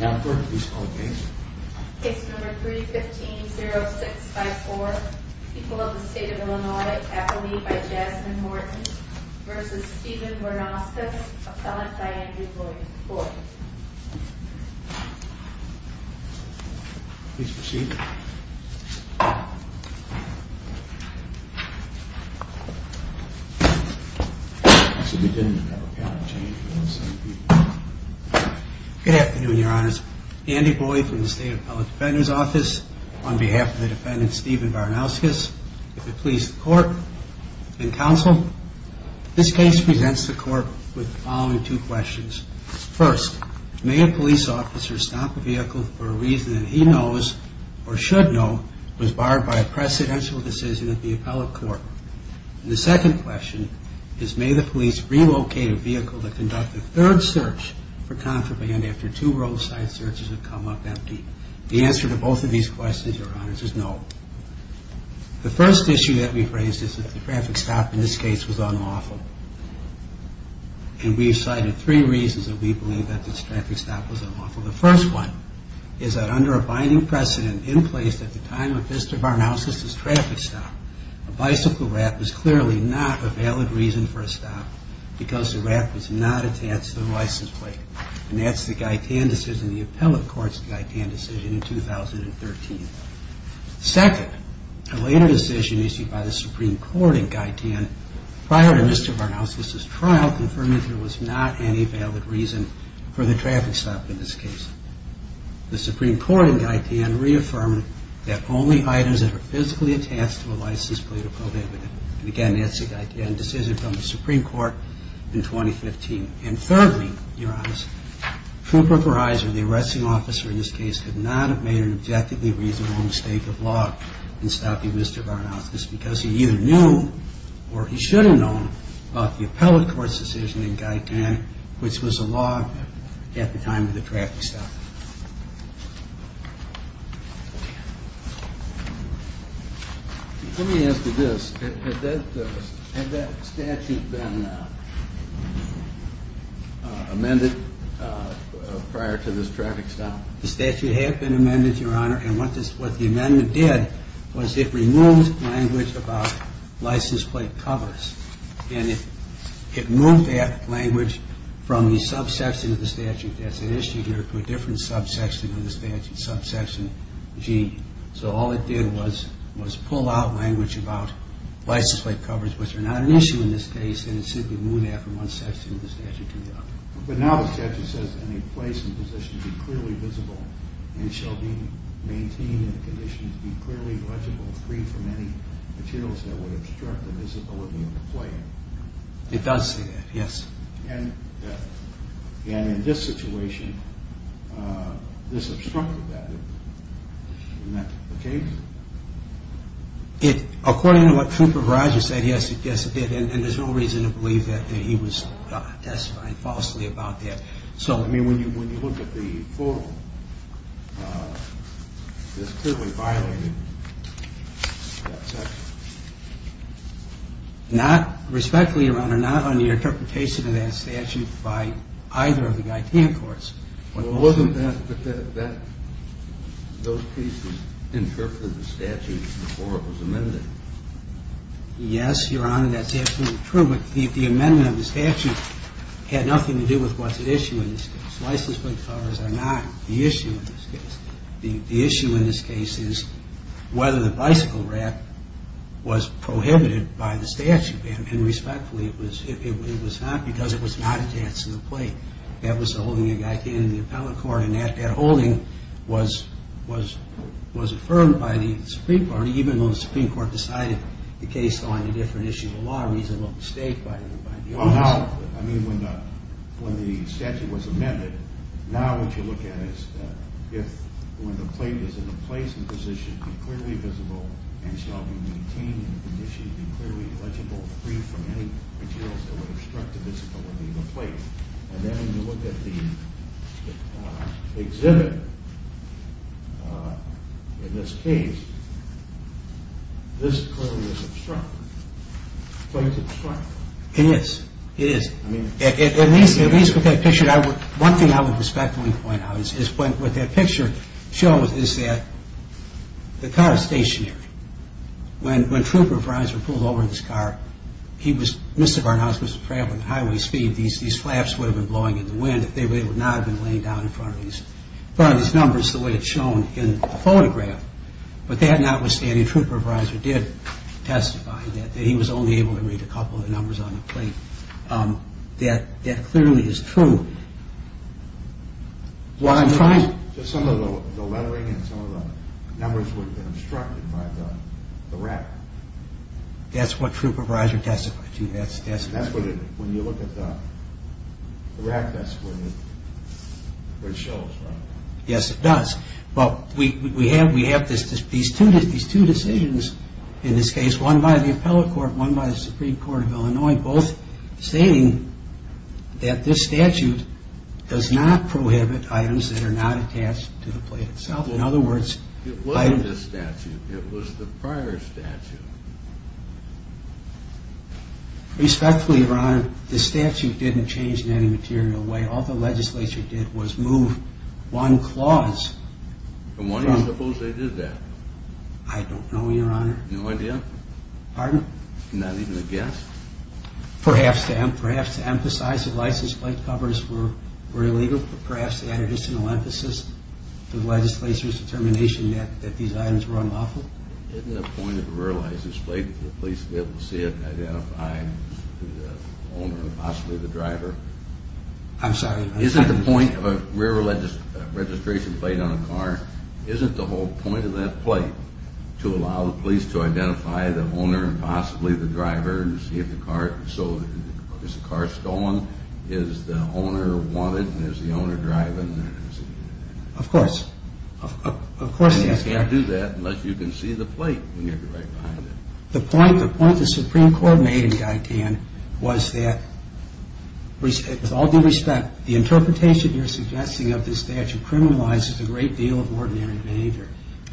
Now first, please call the case. Case number 315-0654. People of the State of Illinois. Appellee by Jasmine Morton v. Stephen Varnauskas. Appellant by Andrew Lloyd. Please proceed. You said we didn't have a patent change for the same people. Good afternoon, Your Honors. Andy Boyd from the State Appellate Defender's Office. On behalf of the defendant Stephen Varnauskas, the police, the court, and counsel, this case presents the court with the following two questions. First, may a police officer stop a vehicle for a reason that he knows or should know was barred by a precedential decision of the appellate court? The second question is may the police relocate a vehicle to conduct a third search for contraband after two roadside searches have come up empty? The answer to both of these questions, Your Honors, is no. The first issue that we've raised is that the traffic stop in this case was unlawful. And we've cited three reasons that we believe that this traffic stop was unlawful. The first one is that under a binding precedent in place at the time of Mr. Varnauskas' traffic stop, a bicycle wrap was clearly not a valid reason for a stop because the wrap was not attached to the license plate. And that's the Guy Tan decision, the appellate court's Guy Tan decision in 2013. Second, a later decision issued by the Supreme Court in Guy Tan prior to Mr. Varnauskas' trial confirmed that there was not any valid reason for the traffic stop in this case. The Supreme Court in Guy Tan reaffirmed that only items that are physically attached to a license plate are prohibited. And again, that's the Guy Tan decision from the Supreme Court in 2015. And thirdly, Your Honors, Trooper Griser, the arresting officer in this case, could not have made an objectively reasonable mistake of law in stopping Mr. Varnauskas because he either knew or he should have known about the appellate court's decision in Guy Tan, which was a law at the time of the traffic stop. Let me ask you this. Had that statute been amended prior to this traffic stop? The statute had been amended, Your Honor. And what the amendment did was it removed language about license plate covers. And it moved that language from the subsection of the statute that's at issue here to a different subsection of the statute, subsection G. So all it did was pull out language about license plate covers, which are not an issue in this case, and it simply moved that from one section of the statute to the other. But now the statute says that any place and position should be clearly visible and shall be maintained in a condition to be clearly legible, free from any materials that would obstruct the visibility of the player. It does say that, yes. And in this situation, this obstructed that. Isn't that the case? According to what Trooper Griser said, yes, it did. And there's no reason to believe that he was testifying falsely about that. So, I mean, when you look at the forum, this clearly violated that section. Not respectfully, Your Honor, not on the interpretation of that statute by either of the Guy Tan courts. But wasn't that the case that interpreted the statute before it was amended? Yes, Your Honor, that's absolutely true. The amendment of the statute had nothing to do with what's at issue in this case. License plate covers are not the issue in this case. The issue in this case is whether the bicycle rack was prohibited by the statute. And respectfully, it was not because it was not a chance to play. That was the holding of Guy Tan in the appellate court, and that holding was affirmed by the Supreme Court, even though the Supreme Court decided the case on a different issue. A lot of reasonable mistake. Oh, no. I mean, when the statute was amended, now what you look at is if when the plate is in a place and position, be clearly visible and shall be maintained in the condition, be clearly legible, free from any materials that would obstruct the visibility of the plate. And then when you look at the exhibit in this case, this clearly was obstructed, the plate's obstructed. It is. It is. At least with that picture, one thing I would respectfully point out is what that picture shows is that the car is stationary. When Trooper Bronser pulled over in his car, Mr. Barnhouse was traveling at highway speed. These flaps would have been blowing in the wind if they would not have been laying down in front of these numbers the way it's shown in the photograph. But that notwithstanding, Trooper Bronser did testify that he was only able to read a couple of the numbers on the plate. That clearly is true. Some of the lettering and some of the numbers would have been obstructed by the rack. That's what Trooper Bronser testified to. When you look at the rack, that's where it shows, right? Yes, it does. But we have these two decisions in this case, one by the Appellate Court, one by the Supreme Court of Illinois, both stating that this statute does not prohibit items that are not attached to the plate itself. It wasn't the statute, it was the prior statute. Respectfully, Your Honor, the statute didn't change in any material way. All the legislature did was move one clause. And why do you suppose they did that? I don't know, Your Honor. No idea? Pardon? Not even a guess? Perhaps to emphasize that license plate covers were illegal, or perhaps to add additional emphasis to the legislature's determination that these items were unlawful? Isn't the point of the rear license plate for the police to be able to see it and identify the owner and possibly the driver? I'm sorry? Isn't the point of a registration plate on a car, isn't the whole point of that plate to allow the police to identify the owner and possibly the driver and see if the car is stolen, is the owner wanted and is the owner driving? Of course. And you can't do that unless you can see the plate when you're right behind it. The point the Supreme Court made in Guyton was that, with all due respect, the interpretation you're suggesting of this statute criminalizes a great deal of ordinary behavior.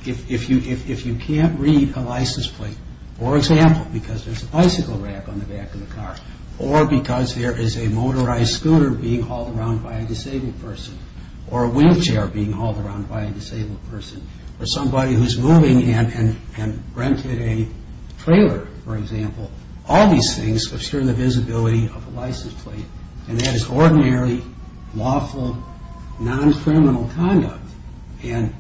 If you can't read a license plate, for example, because there's a bicycle rack on the back of the car or because there is a motorized scooter being hauled around by a disabled person or a wheelchair being hauled around by a disabled person or somebody who's moving in and rented a trailer, for example, all these things obscure the visibility of a license plate, and that is ordinary, lawful, non-criminal conduct. And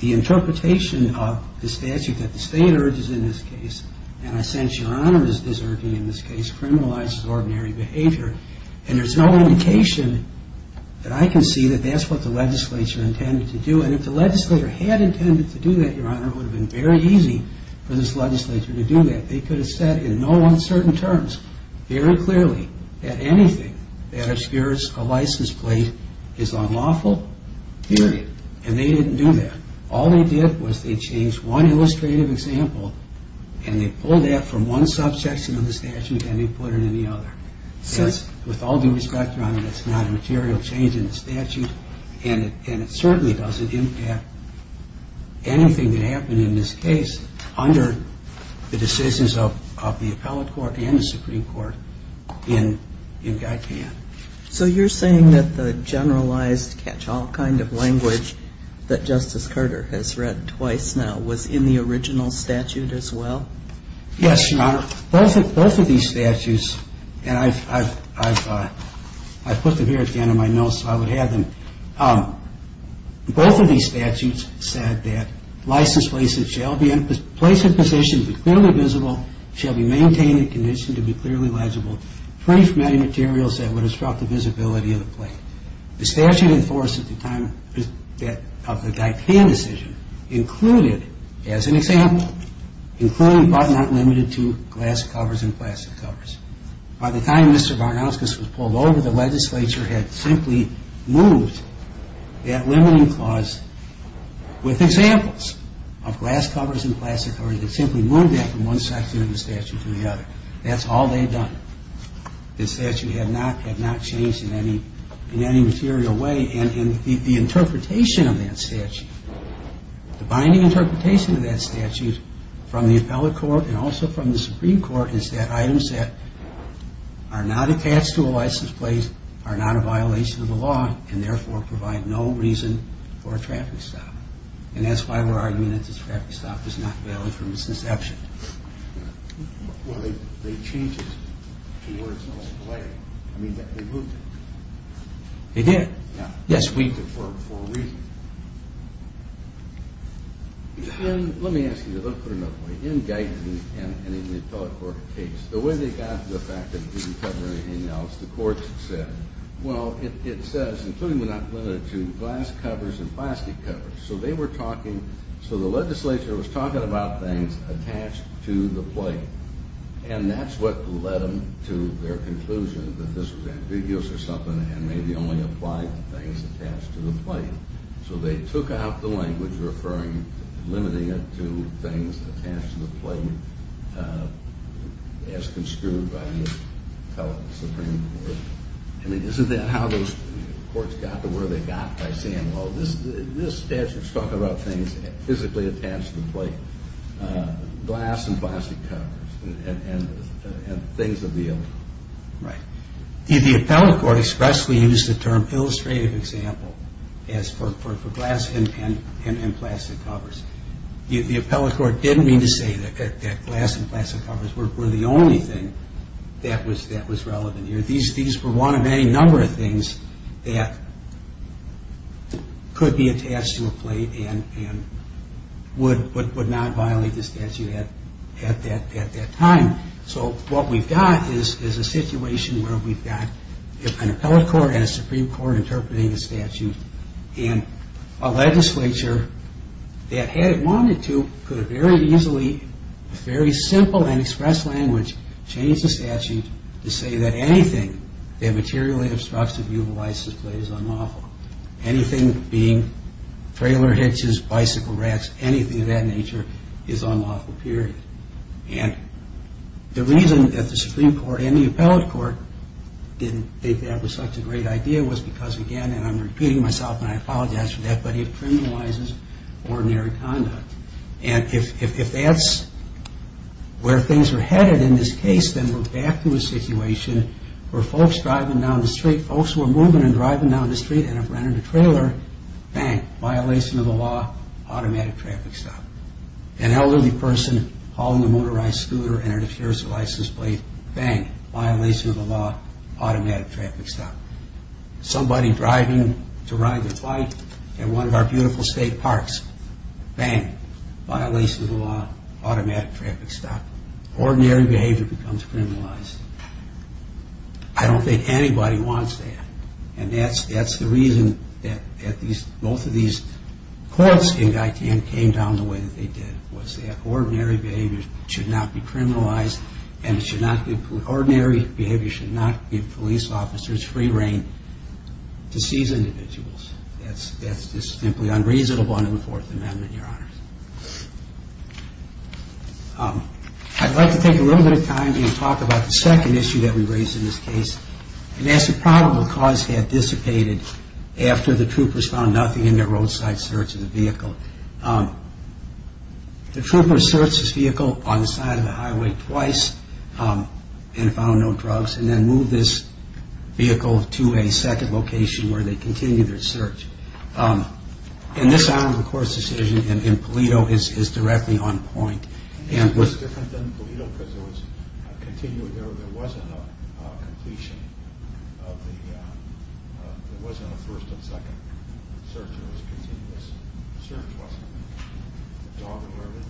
the interpretation of the statute that the state urges in this case, and I sense Your Honor is urging in this case, criminalizes ordinary behavior, and there's no indication that I can see that that's what the legislature intended to do. And if the legislature had intended to do that, Your Honor, it would have been very easy for this legislature to do that. They could have said in no uncertain terms, very clearly, that anything that obscures a license plate is unlawful, period. And they didn't do that. All they did was they changed one illustrative example and they pulled that from one subsection of the statute and they put it in the other. With all due respect, Your Honor, that's not a material change in the statute, and it certainly doesn't impact anything that happened in this case under the decisions of the appellate court and the Supreme Court in Guy Pann. So you're saying that the generalized catch-all kind of language that Justice Carter has read twice now was in the original statute as well? Yes, Your Honor. Both of these statutes, and I've put them here at the end of my notes so I would have them. Both of these statutes said that license plates that shall be placed in position be clearly visible, shall be maintained in condition to be clearly legible, free from any materials that would disrupt the visibility of the plate. The statute in force at the time of the Guy Pann decision included, as an example, including but not limited to glass covers and plastic covers. By the time Mr. Barnoskas was pulled over, the legislature had simply moved that limiting clause with examples of glass covers and plastic covers and simply moved that from one section of the statute to the other. That's all they'd done. The statute had not changed in any material way. And the interpretation of that statute, the binding interpretation of that statute from the appellate court and also from the Supreme Court, is that items that are not attached to a license plate are not a violation of the law and therefore provide no reason for a traffic stop. And that's why we're arguing that this traffic stop is not valid for misinterception. Well, they changed it to where it's not a violation. I mean, they moved it. They did? Yes, we moved it for a reason. Let me ask you this. Let me put it another way. In Guy Pann and in the appellate court case, the way they got the fact that it didn't cover anything else, the courts said, well, it says, including but not limited to, glass covers and plastic covers. So the legislature was talking about things attached to the plate, and that's what led them to their conclusion that this was ambiguous or something and maybe only applied to things attached to the plate. So they took out the language referring to limiting it to things attached to the plate as construed by the appellate Supreme Court. I mean, isn't that how those courts got to where they got by saying, well, this statute's talking about things physically attached to the plate, glass and plastic covers, and things of the order. Right. The appellate court expressly used the term illustrative example as for glass and plastic covers. The appellate court didn't mean to say that glass and plastic covers were the only thing that was relevant here. These were one of any number of things that could be attached to a plate and would not violate the statute at that time. So what we've got is a situation where we've got an appellate court and a Supreme Court interpreting a statute, and a legislature that had wanted to could have very easily, very simple and expressed language, changed the statute to say that anything that materially obstructs the view of a license plate is unlawful. Anything being trailer hitches, bicycle racks, anything of that nature is unlawful, period. And the reason that the Supreme Court and the appellate court didn't think that was such a great idea was because, again, and I'm repeating myself, and I apologize for that, but it criminalizes ordinary conduct. And if that's where things are headed in this case, then we're back to a situation where folks driving down the street, folks who are moving and driving down the street and have rented a trailer, bang, violation of the law, automatic traffic stop. An elderly person hauling a motorized scooter and it appears to license plate, bang, violation of the law, automatic traffic stop. Somebody driving to ride their bike in one of our beautiful state parks, bang, violation of the law, automatic traffic stop. Ordinary behavior becomes criminalized. I don't think anybody wants that. And that's the reason that both of these courts in Guyton came down the way that they did, was that ordinary behavior should not be criminalized and ordinary behavior should not give police officers free rein to seize individuals. That's just simply unreasonable under the Fourth Amendment, Your Honors. I'd like to take a little bit of time to talk about the second issue that we raise in this case, and that's the probable cause had dissipated after the troopers found nothing in their roadside search of the vehicle. The troopers searched this vehicle on the side of the highway twice and found no drugs and then moved this vehicle to a second location where they continued their search. And this is an armed recourse decision and Polito is directly on point. It was different than Polito because there wasn't a completion of the, there wasn't a first and second search. It was continuous search, wasn't there? Dog alerted?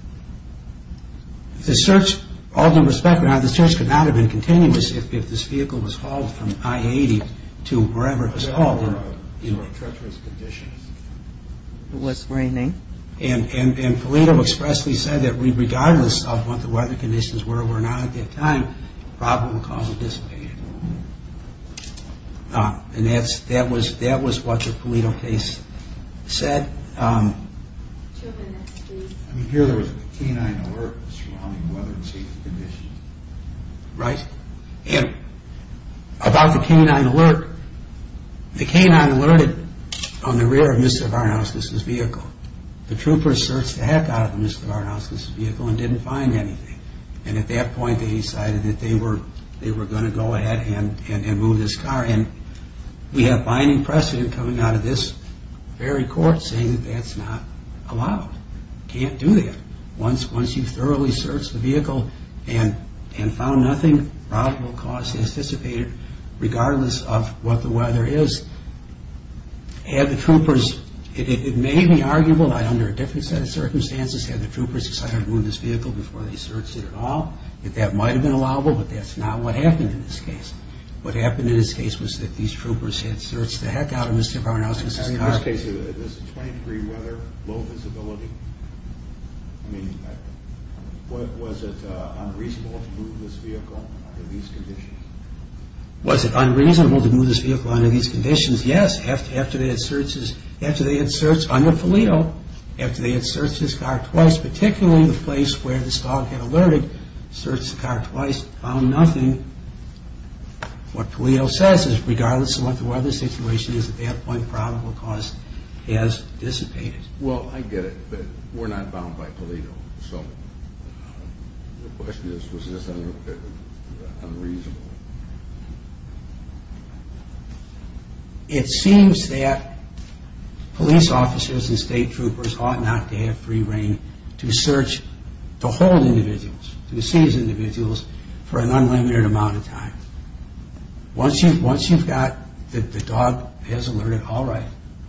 The search, all due respect, the search could not have been continuous if this vehicle was hauled from I-80 to wherever it was hauled. Or treacherous conditions. It was raining. And Polito expressly said that regardless of what the weather conditions were or were not at that time, probable cause had dissipated. And that was what the Polito case said. Here there was a canine alert surrounding weather and safety conditions. Right. And about the canine alert, the canine alerted on the rear of Mr. Varnauskas' vehicle. The troopers searched the heck out of Mr. Varnauskas' vehicle and didn't find anything. And at that point they decided that they were going to go ahead and move this car. And we have binding precedent coming out of this very court saying that that's not allowed. Can't do that. Once you've thoroughly searched the vehicle and found nothing, probable cause has dissipated regardless of what the weather is. Had the troopers, it may be arguable that under a different set of circumstances had the troopers decided to move this vehicle before they searched it at all, that that might have been allowable, but that's not what happened in this case. What happened in this case was that these troopers had searched the heck out of Mr. Varnauskas' car. In this case, was it 20 degree weather, low visibility? I mean, was it unreasonable to move this vehicle under these conditions? Was it unreasonable to move this vehicle under these conditions? Yes, after they had searched under Palio, after they had searched his car twice, particularly the place where this dog had alerted, searched the car twice, found nothing. What Palio says is regardless of what the weather situation is, at that point probable cause has dissipated. Well, I get it, but we're not bound by Palio. So the question is, was this unreasonable? It seems that police officers and state troopers ought not to have free reign to search, to hold individuals, to seize individuals for an unlimited amount of time. Once you've got the dog has alerted, all right,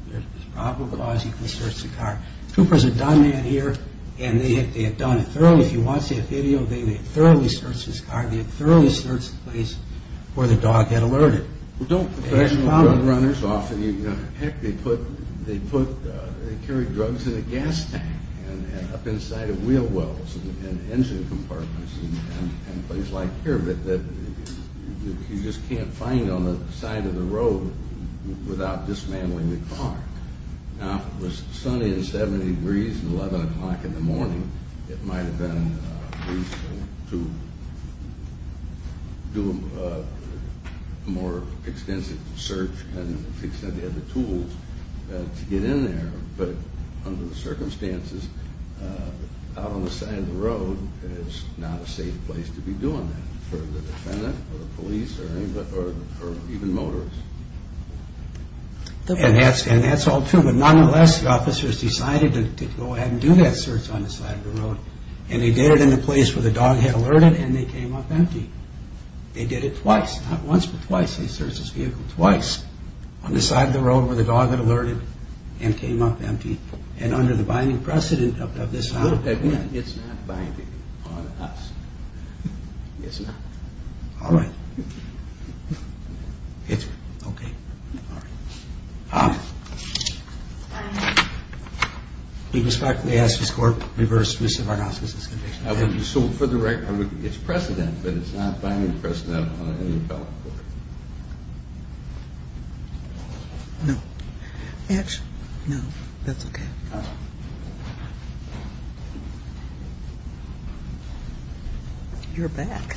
there's probable cause you can search the car. Troopers had done that here, and they had done it thoroughly. If you want to see a video of it, they had thoroughly searched his car, they had thoroughly searched the place where the dog had alerted. Well, don't professional drug runners often, you know, heck, they put, they carried drugs in a gas tank, and up inside of wheel wells and engine compartments and things like here, that you just can't find on the side of the road without dismantling the car. Now, if it was sunny and 70 degrees at 11 o'clock in the morning, it might have been reasonable to do a more extensive search and fix any of the tools to get in there, but under the circumstances, out on the side of the road is not a safe place to be doing that for the defendant or the police or even motorists. And that's all true, but nonetheless, the officers decided to go ahead and do that search on the side of the road, and they did it in the place where the dog had alerted, and they came up empty. They did it twice, not once, but twice. They searched his vehicle twice on the side of the road where the dog had alerted and came up empty, and under the binding precedent of this law. It's not binding on us. It's not. All right. It's okay. All right. We respectfully ask this Court reverse Mr. Varnaska's conviction. So for the record, it's precedent, but it's not binding precedent on any felon court. No. Actually, no. That's okay. You're back.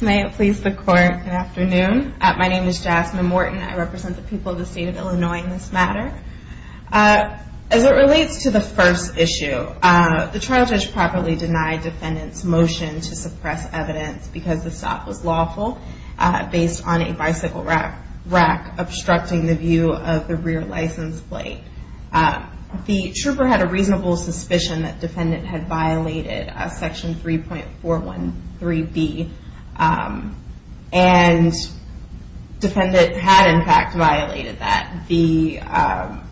May it please the Court, good afternoon. My name is Jasmine Morton. I represent the people of the state of Illinois in this matter. As it relates to the first issue, the trial judge properly denied defendant's motion to suppress evidence because the stop was lawful, based on a bicycle rack obstructing the view of the rear license plate. The trooper had a reasonable suspicion that defendant had violated Section 3.413B, and defendant had, in fact, violated that.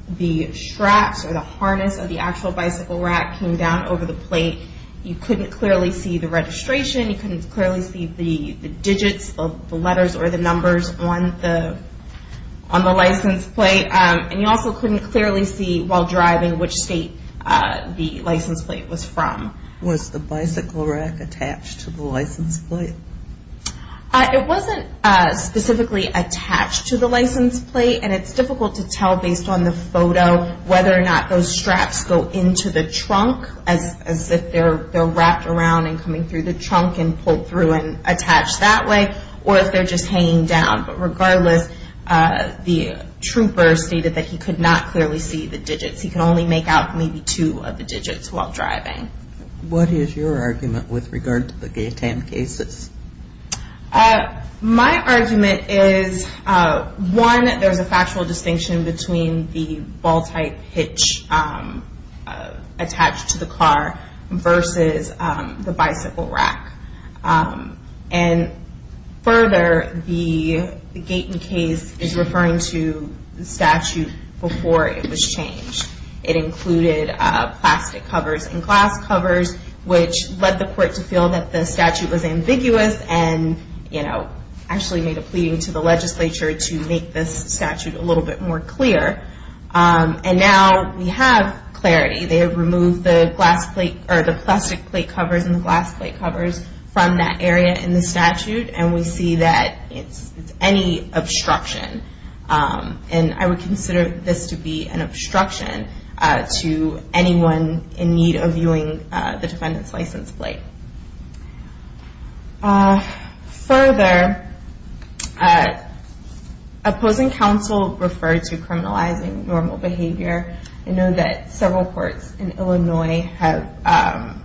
The straps or the harness of the actual bicycle rack came down over the plate. You couldn't clearly see the registration. You couldn't clearly see the digits of the letters or the numbers on the license plate, and you also couldn't clearly see while driving which state the license plate was from. Was the bicycle rack attached to the license plate? It wasn't specifically attached to the license plate, and it's difficult to tell based on the photo whether or not those straps go into the trunk as if they're wrapped around and coming through the trunk and pulled through and attached that way, or if they're just hanging down. But regardless, the trooper stated that he could not clearly see the digits. He could only make out maybe two of the digits while driving. What is your argument with regard to the GATAM cases? My argument is, one, there's a factual distinction between the ball-type hitch attached to the car versus the bicycle rack. And further, the GATAM case is referring to the statute before it was changed. It included plastic covers and glass covers, which led the court to feel that the statute was ambiguous and actually made a pleading to the legislature to make this statute a little bit more clear. And now we have clarity. They have removed the plastic plate covers and the glass plate covers from that area in the statute, and we see that it's any obstruction. And I would consider this to be an obstruction to anyone in need of viewing the defendant's license plate. Further, opposing counsel referred to criminalizing normal behavior. I know that several courts in Illinois have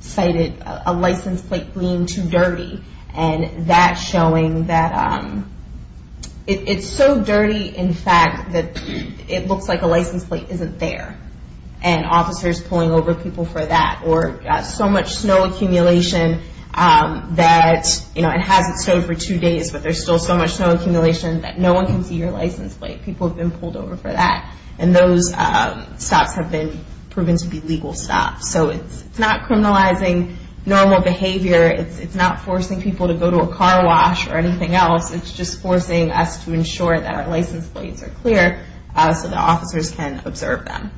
cited a license plate being too dirty, and that's showing that it's so dirty, in fact, that it looks like a license plate isn't there, and officers pulling over people for that, or so much snow accumulation that it hasn't snowed for two days, but there's still so much snow accumulation that no one can see your license plate. People have been pulled over for that, and those stops have been proven to be legal stops. So it's not criminalizing normal behavior. It's not forcing people to go to a car wash or anything else. It's just forcing us to ensure that our license plates are clear so that officers can observe them.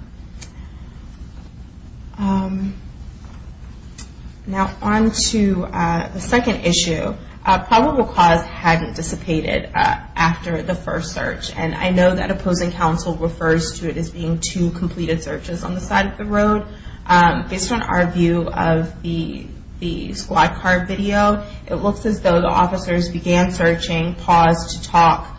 Now, on to the second issue. Probable cause hadn't dissipated after the first search, and I know that opposing counsel refers to it as being two completed searches on the side of the road. Based on our view of the squad car video, it looks as though the officers began searching, paused to talk,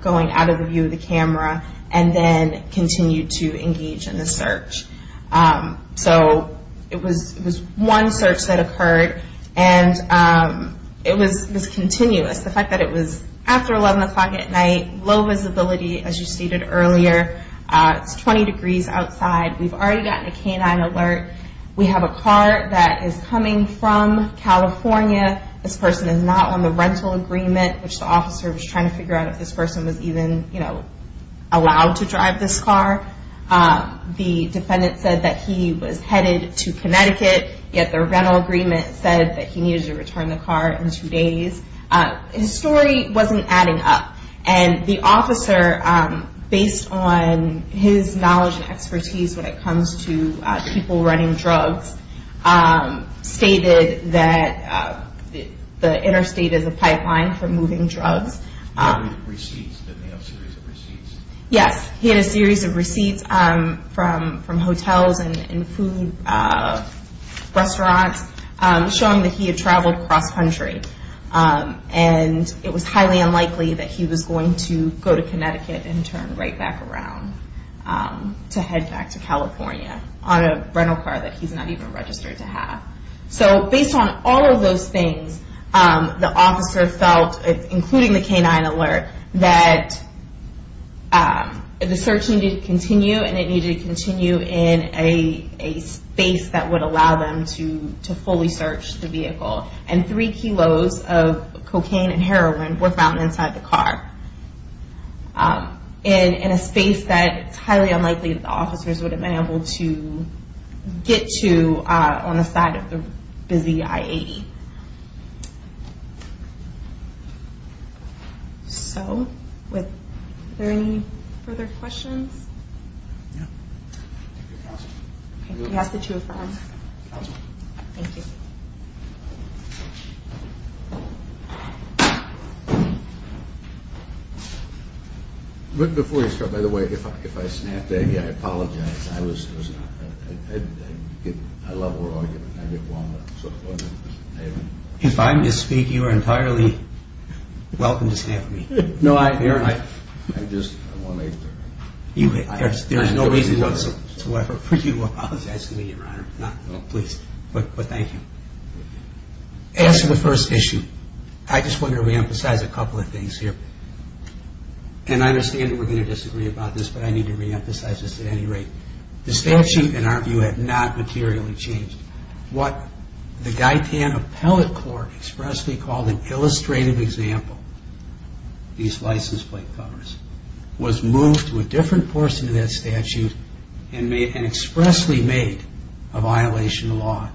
going out of the view of the camera, and then continued to engage in the search. So it was one search that occurred, and it was continuous. The fact that it was after 11 o'clock at night, low visibility, as you stated earlier. It's 20 degrees outside. We've already gotten a canine alert. We have a car that is coming from California. This person is not on the rental agreement, which the officer was trying to figure out if this person was even allowed to drive this car. The defendant said that he was headed to Connecticut, yet the rental agreement said that he needed to return the car in two days. His story wasn't adding up. And the officer, based on his knowledge and expertise when it comes to people running drugs, stated that the interstate is a pipeline for moving drugs. He had receipts. Didn't he have a series of receipts? From hotels and food restaurants, showing that he had traveled cross-country. And it was highly unlikely that he was going to go to Connecticut and turn right back around to head back to California on a rental car that he's not even registered to have. So based on all of those things, the officer felt, including the canine alert, that the search needed to continue, and it needed to continue in a space that would allow them to fully search the vehicle. And three kilos of cocaine and heroin were found inside the car in a space that it's highly unlikely that the officers would have been able to get to on the side of the busy I-80. Are there any further questions? No. We asked the two of them. Thank you. Before you start, by the way, if I snapped at you, I apologize. I love war arguments. I get wound up. If I misspeak, you are entirely welcome to snap at me. I just want to make sure. There is no reason whatsoever for you to apologize to me, Your Honor. No, please. But thank you. As to the first issue, I just want to reemphasize a couple of things here. And I understand that we're going to disagree about this, but I need to reemphasize this at any rate. The statute, in our view, had not materially changed. What the Guy Tan Appellate Court expressly called an illustrative example of these license plate covers was moved to a different portion of that statute and expressly made a violation of law.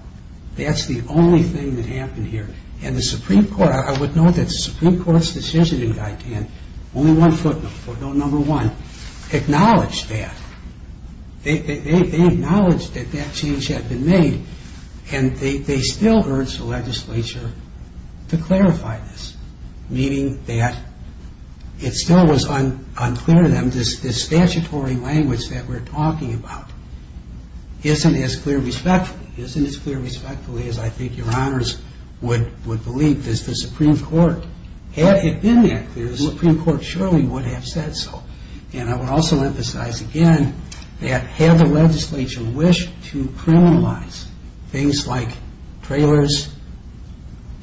That's the only thing that happened here. And the Supreme Court, I would note that the Supreme Court's decision in Guy Tan, only one footnote, footnote number one, acknowledged that. They acknowledged that that change had been made, and they still urged the legislature to clarify this, meaning that it still was unclear to them. This statutory language that we're talking about isn't as clear respectfully, isn't as clear respectfully as I think Your Honors would believe. Had it been that clear, the Supreme Court surely would have said so. And I would also emphasize again that had the legislature wished to criminalize things like trailers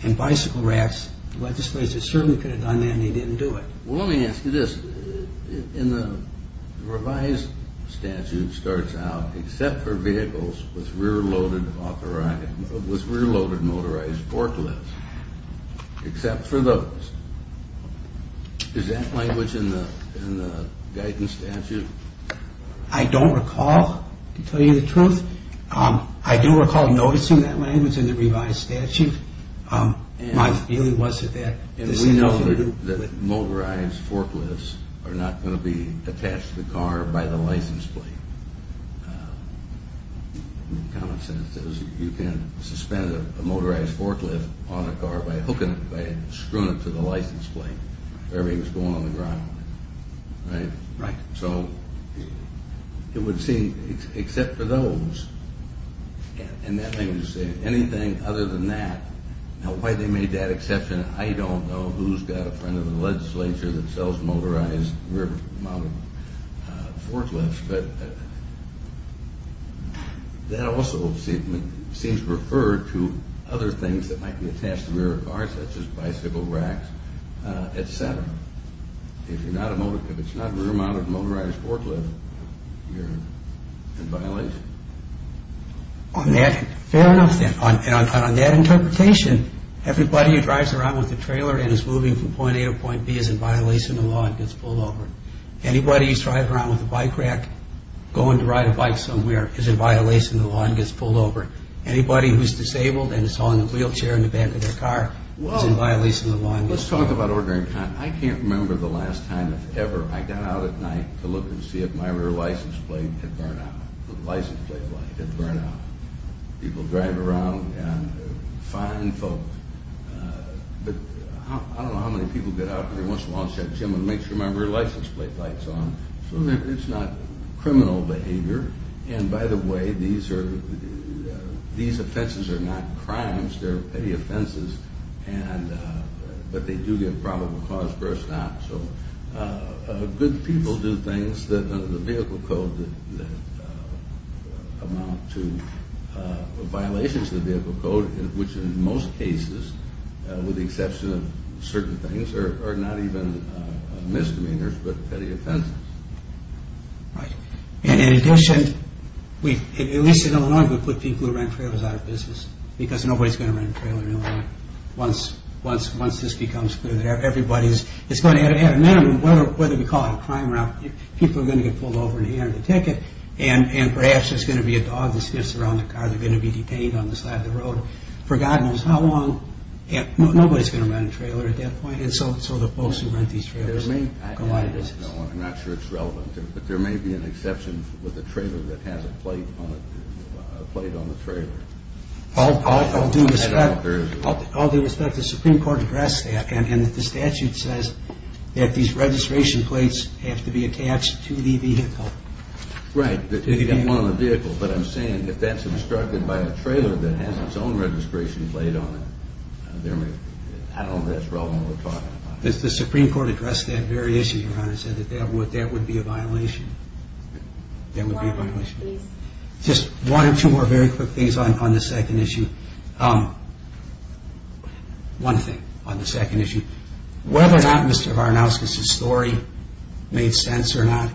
and bicycle racks, the legislature certainly could have done that and they didn't do it. Well, let me ask you this. In the revised statute, it starts out, except for vehicles with rear-loaded motorized forklifts, except for those. Is that language in the Guy Tan statute? I don't recall, to tell you the truth. I do recall noticing that language in the revised statute. My feeling was that this had nothing to do with- And we know that motorized forklifts are not going to be attached to the car by the license plate. Common sense says you can suspend a motorized forklift on a car by hooking it, by screwing it to the license plate, wherever he was going on the ground. Right? Right. So it would seem, except for those, and that language is saying anything other than that. Now, why they made that exception, I don't know. Who's got a friend of the legislature that sells motorized rear-mounted forklifts? But that also seems to refer to other things that might be attached to a rear car, such as bicycle racks, et cetera. If it's not a rear-mounted motorized forklift, you're in violation? Fair enough, and on that interpretation, everybody who drives around with a trailer and is moving from point A to point B is in violation of the law and gets pulled over. Anybody who's driving around with a bike rack going to ride a bike somewhere is in violation of the law and gets pulled over. Anybody who's disabled and is hauling a wheelchair in the back of their car is in violation of the law and gets pulled over. Let's talk about ordinary conduct. I can't remember the last time, if ever, I got out at night to look and see if my rear license plate had burned out. The license plate light had burned out. People drive around and fine folk. But I don't know how many people get out every once in a while and check the gym and make sure my rear license plate light's on so that it's not criminal behavior. And by the way, these offenses are not crimes. They're petty offenses. But they do give probable cause for a stop. So good people do things that are in the vehicle code that amount to violations of the vehicle code, which in most cases, with the exception of certain things, are not even misdemeanors but petty offenses. Right. And in addition, at least in Illinois, we put people who rent trailers out of business because nobody's going to rent a trailer in Illinois. Once this becomes clear that everybody's going to have a minimum, whether we call it a crime route, people are going to get pulled over and handed a ticket, and perhaps there's going to be a dog that sniffs around the car. They're going to be detained on the side of the road. For God knows how long, nobody's going to rent a trailer at that point. And so the folks who rent these trailers collide. I'm not sure it's relevant, but there may be an exception with a trailer that has a plate on it, a plate on the trailer. All due respect, the Supreme Court addressed that, and the statute says that these registration plates have to be attached to the vehicle. Right, that you get one on the vehicle. But I'm saying if that's obstructed by a trailer that has its own registration plate on it, I don't know if that's relevant to what we're talking about. The Supreme Court addressed that very issue, Your Honor, and said that that would be a violation. One more, please. Just one or two more very quick things on this second issue. One thing on the second issue. Whether or not Mr. Varnauskas' story made sense or not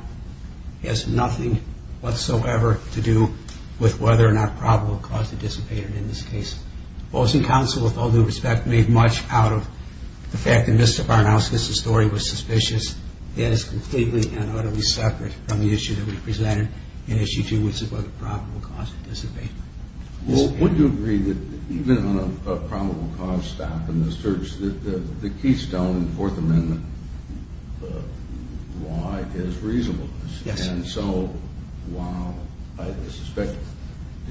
has nothing whatsoever to do with whether or not probable cause dissipated in this case. Boards and Council, with all due respect, made much out of the fact that Mr. Varnauskas' story was suspicious. That is completely and utterly separate from the issue that we presented in Issue 2, which is whether probable cause dissipated. Well, wouldn't you agree that even on a probable cause stop in the search, the keystone in Fourth Amendment law is reasonableness? Yes. And so while I suspect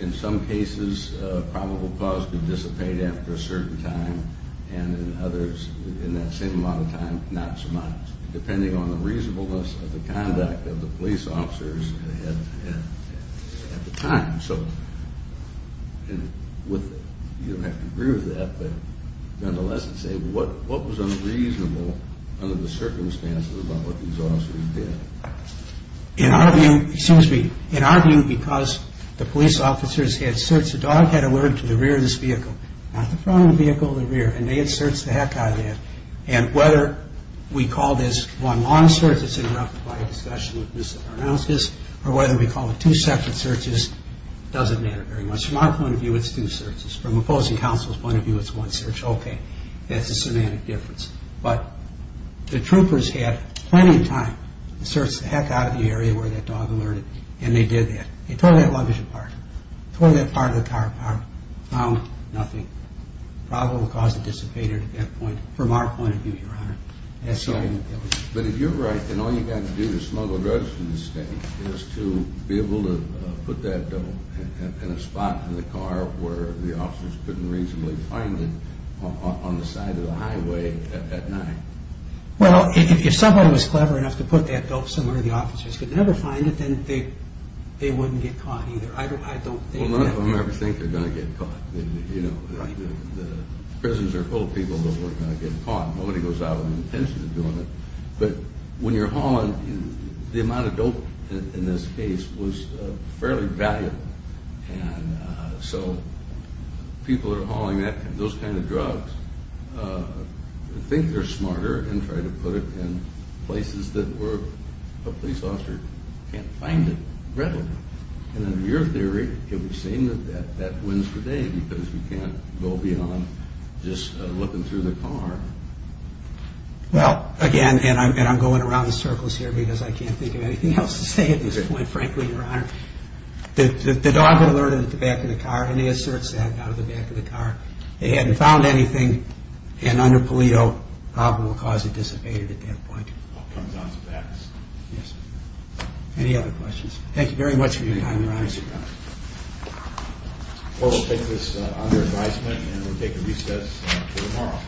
in some cases probable cause can dissipate after a certain time and in others in that same amount of time not so much, depending on the reasonableness of the conduct of the police officers at the time. So you don't have to agree with that, but nonetheless I'd say what was unreasonable under the circumstances about what these officers did? In our view, because the police officers had searched, not the front of the vehicle, the rear, and they had searched the heck out of that, and whether we call this one long search that's interrupted by a discussion with Mr. Varnauskas or whether we call it two separate searches doesn't matter very much. From our point of view, it's two searches. From opposing counsel's point of view, it's one search. Okay, that's a semantic difference. But the troopers had plenty of time to search the heck out of the area where that dog alerted, and they did that. They tore that luggage apart, tore that part of the car apart, found nothing. Probably the cause dissipated at that point from our point of view, Your Honor. But if you're right, then all you've got to do to smuggle drugs from the state is to be able to put that dope in a spot in the car where the officers couldn't reasonably find it on the side of the highway at night. Well, if someone was clever enough to put that dope somewhere the officers could never find it, then they wouldn't get caught either. Well, none of them ever think they're going to get caught. The prisons are full of people that weren't going to get caught. Nobody goes out with an intention of doing it. But when you're hauling, the amount of dope in this case was fairly valuable. And so people that are hauling those kind of drugs think they're smarter and try to put it in places that a police officer can't find it readily. And under your theory, it would seem that that wins the day because we can't go beyond just looking through the car. Well, again, and I'm going around in circles here because I can't think of anything else to say at this point, frankly, Your Honor. The dog alerted at the back of the car, and he asserts that out of the back of the car. They hadn't found anything. And under paleto, probably the cause had dissipated at that point. All comes down to facts. Any other questions? Thank you very much for your time, Your Honor. Thank you, Your Honor. Well, we'll take this under advisement, and we'll take a recess until tomorrow.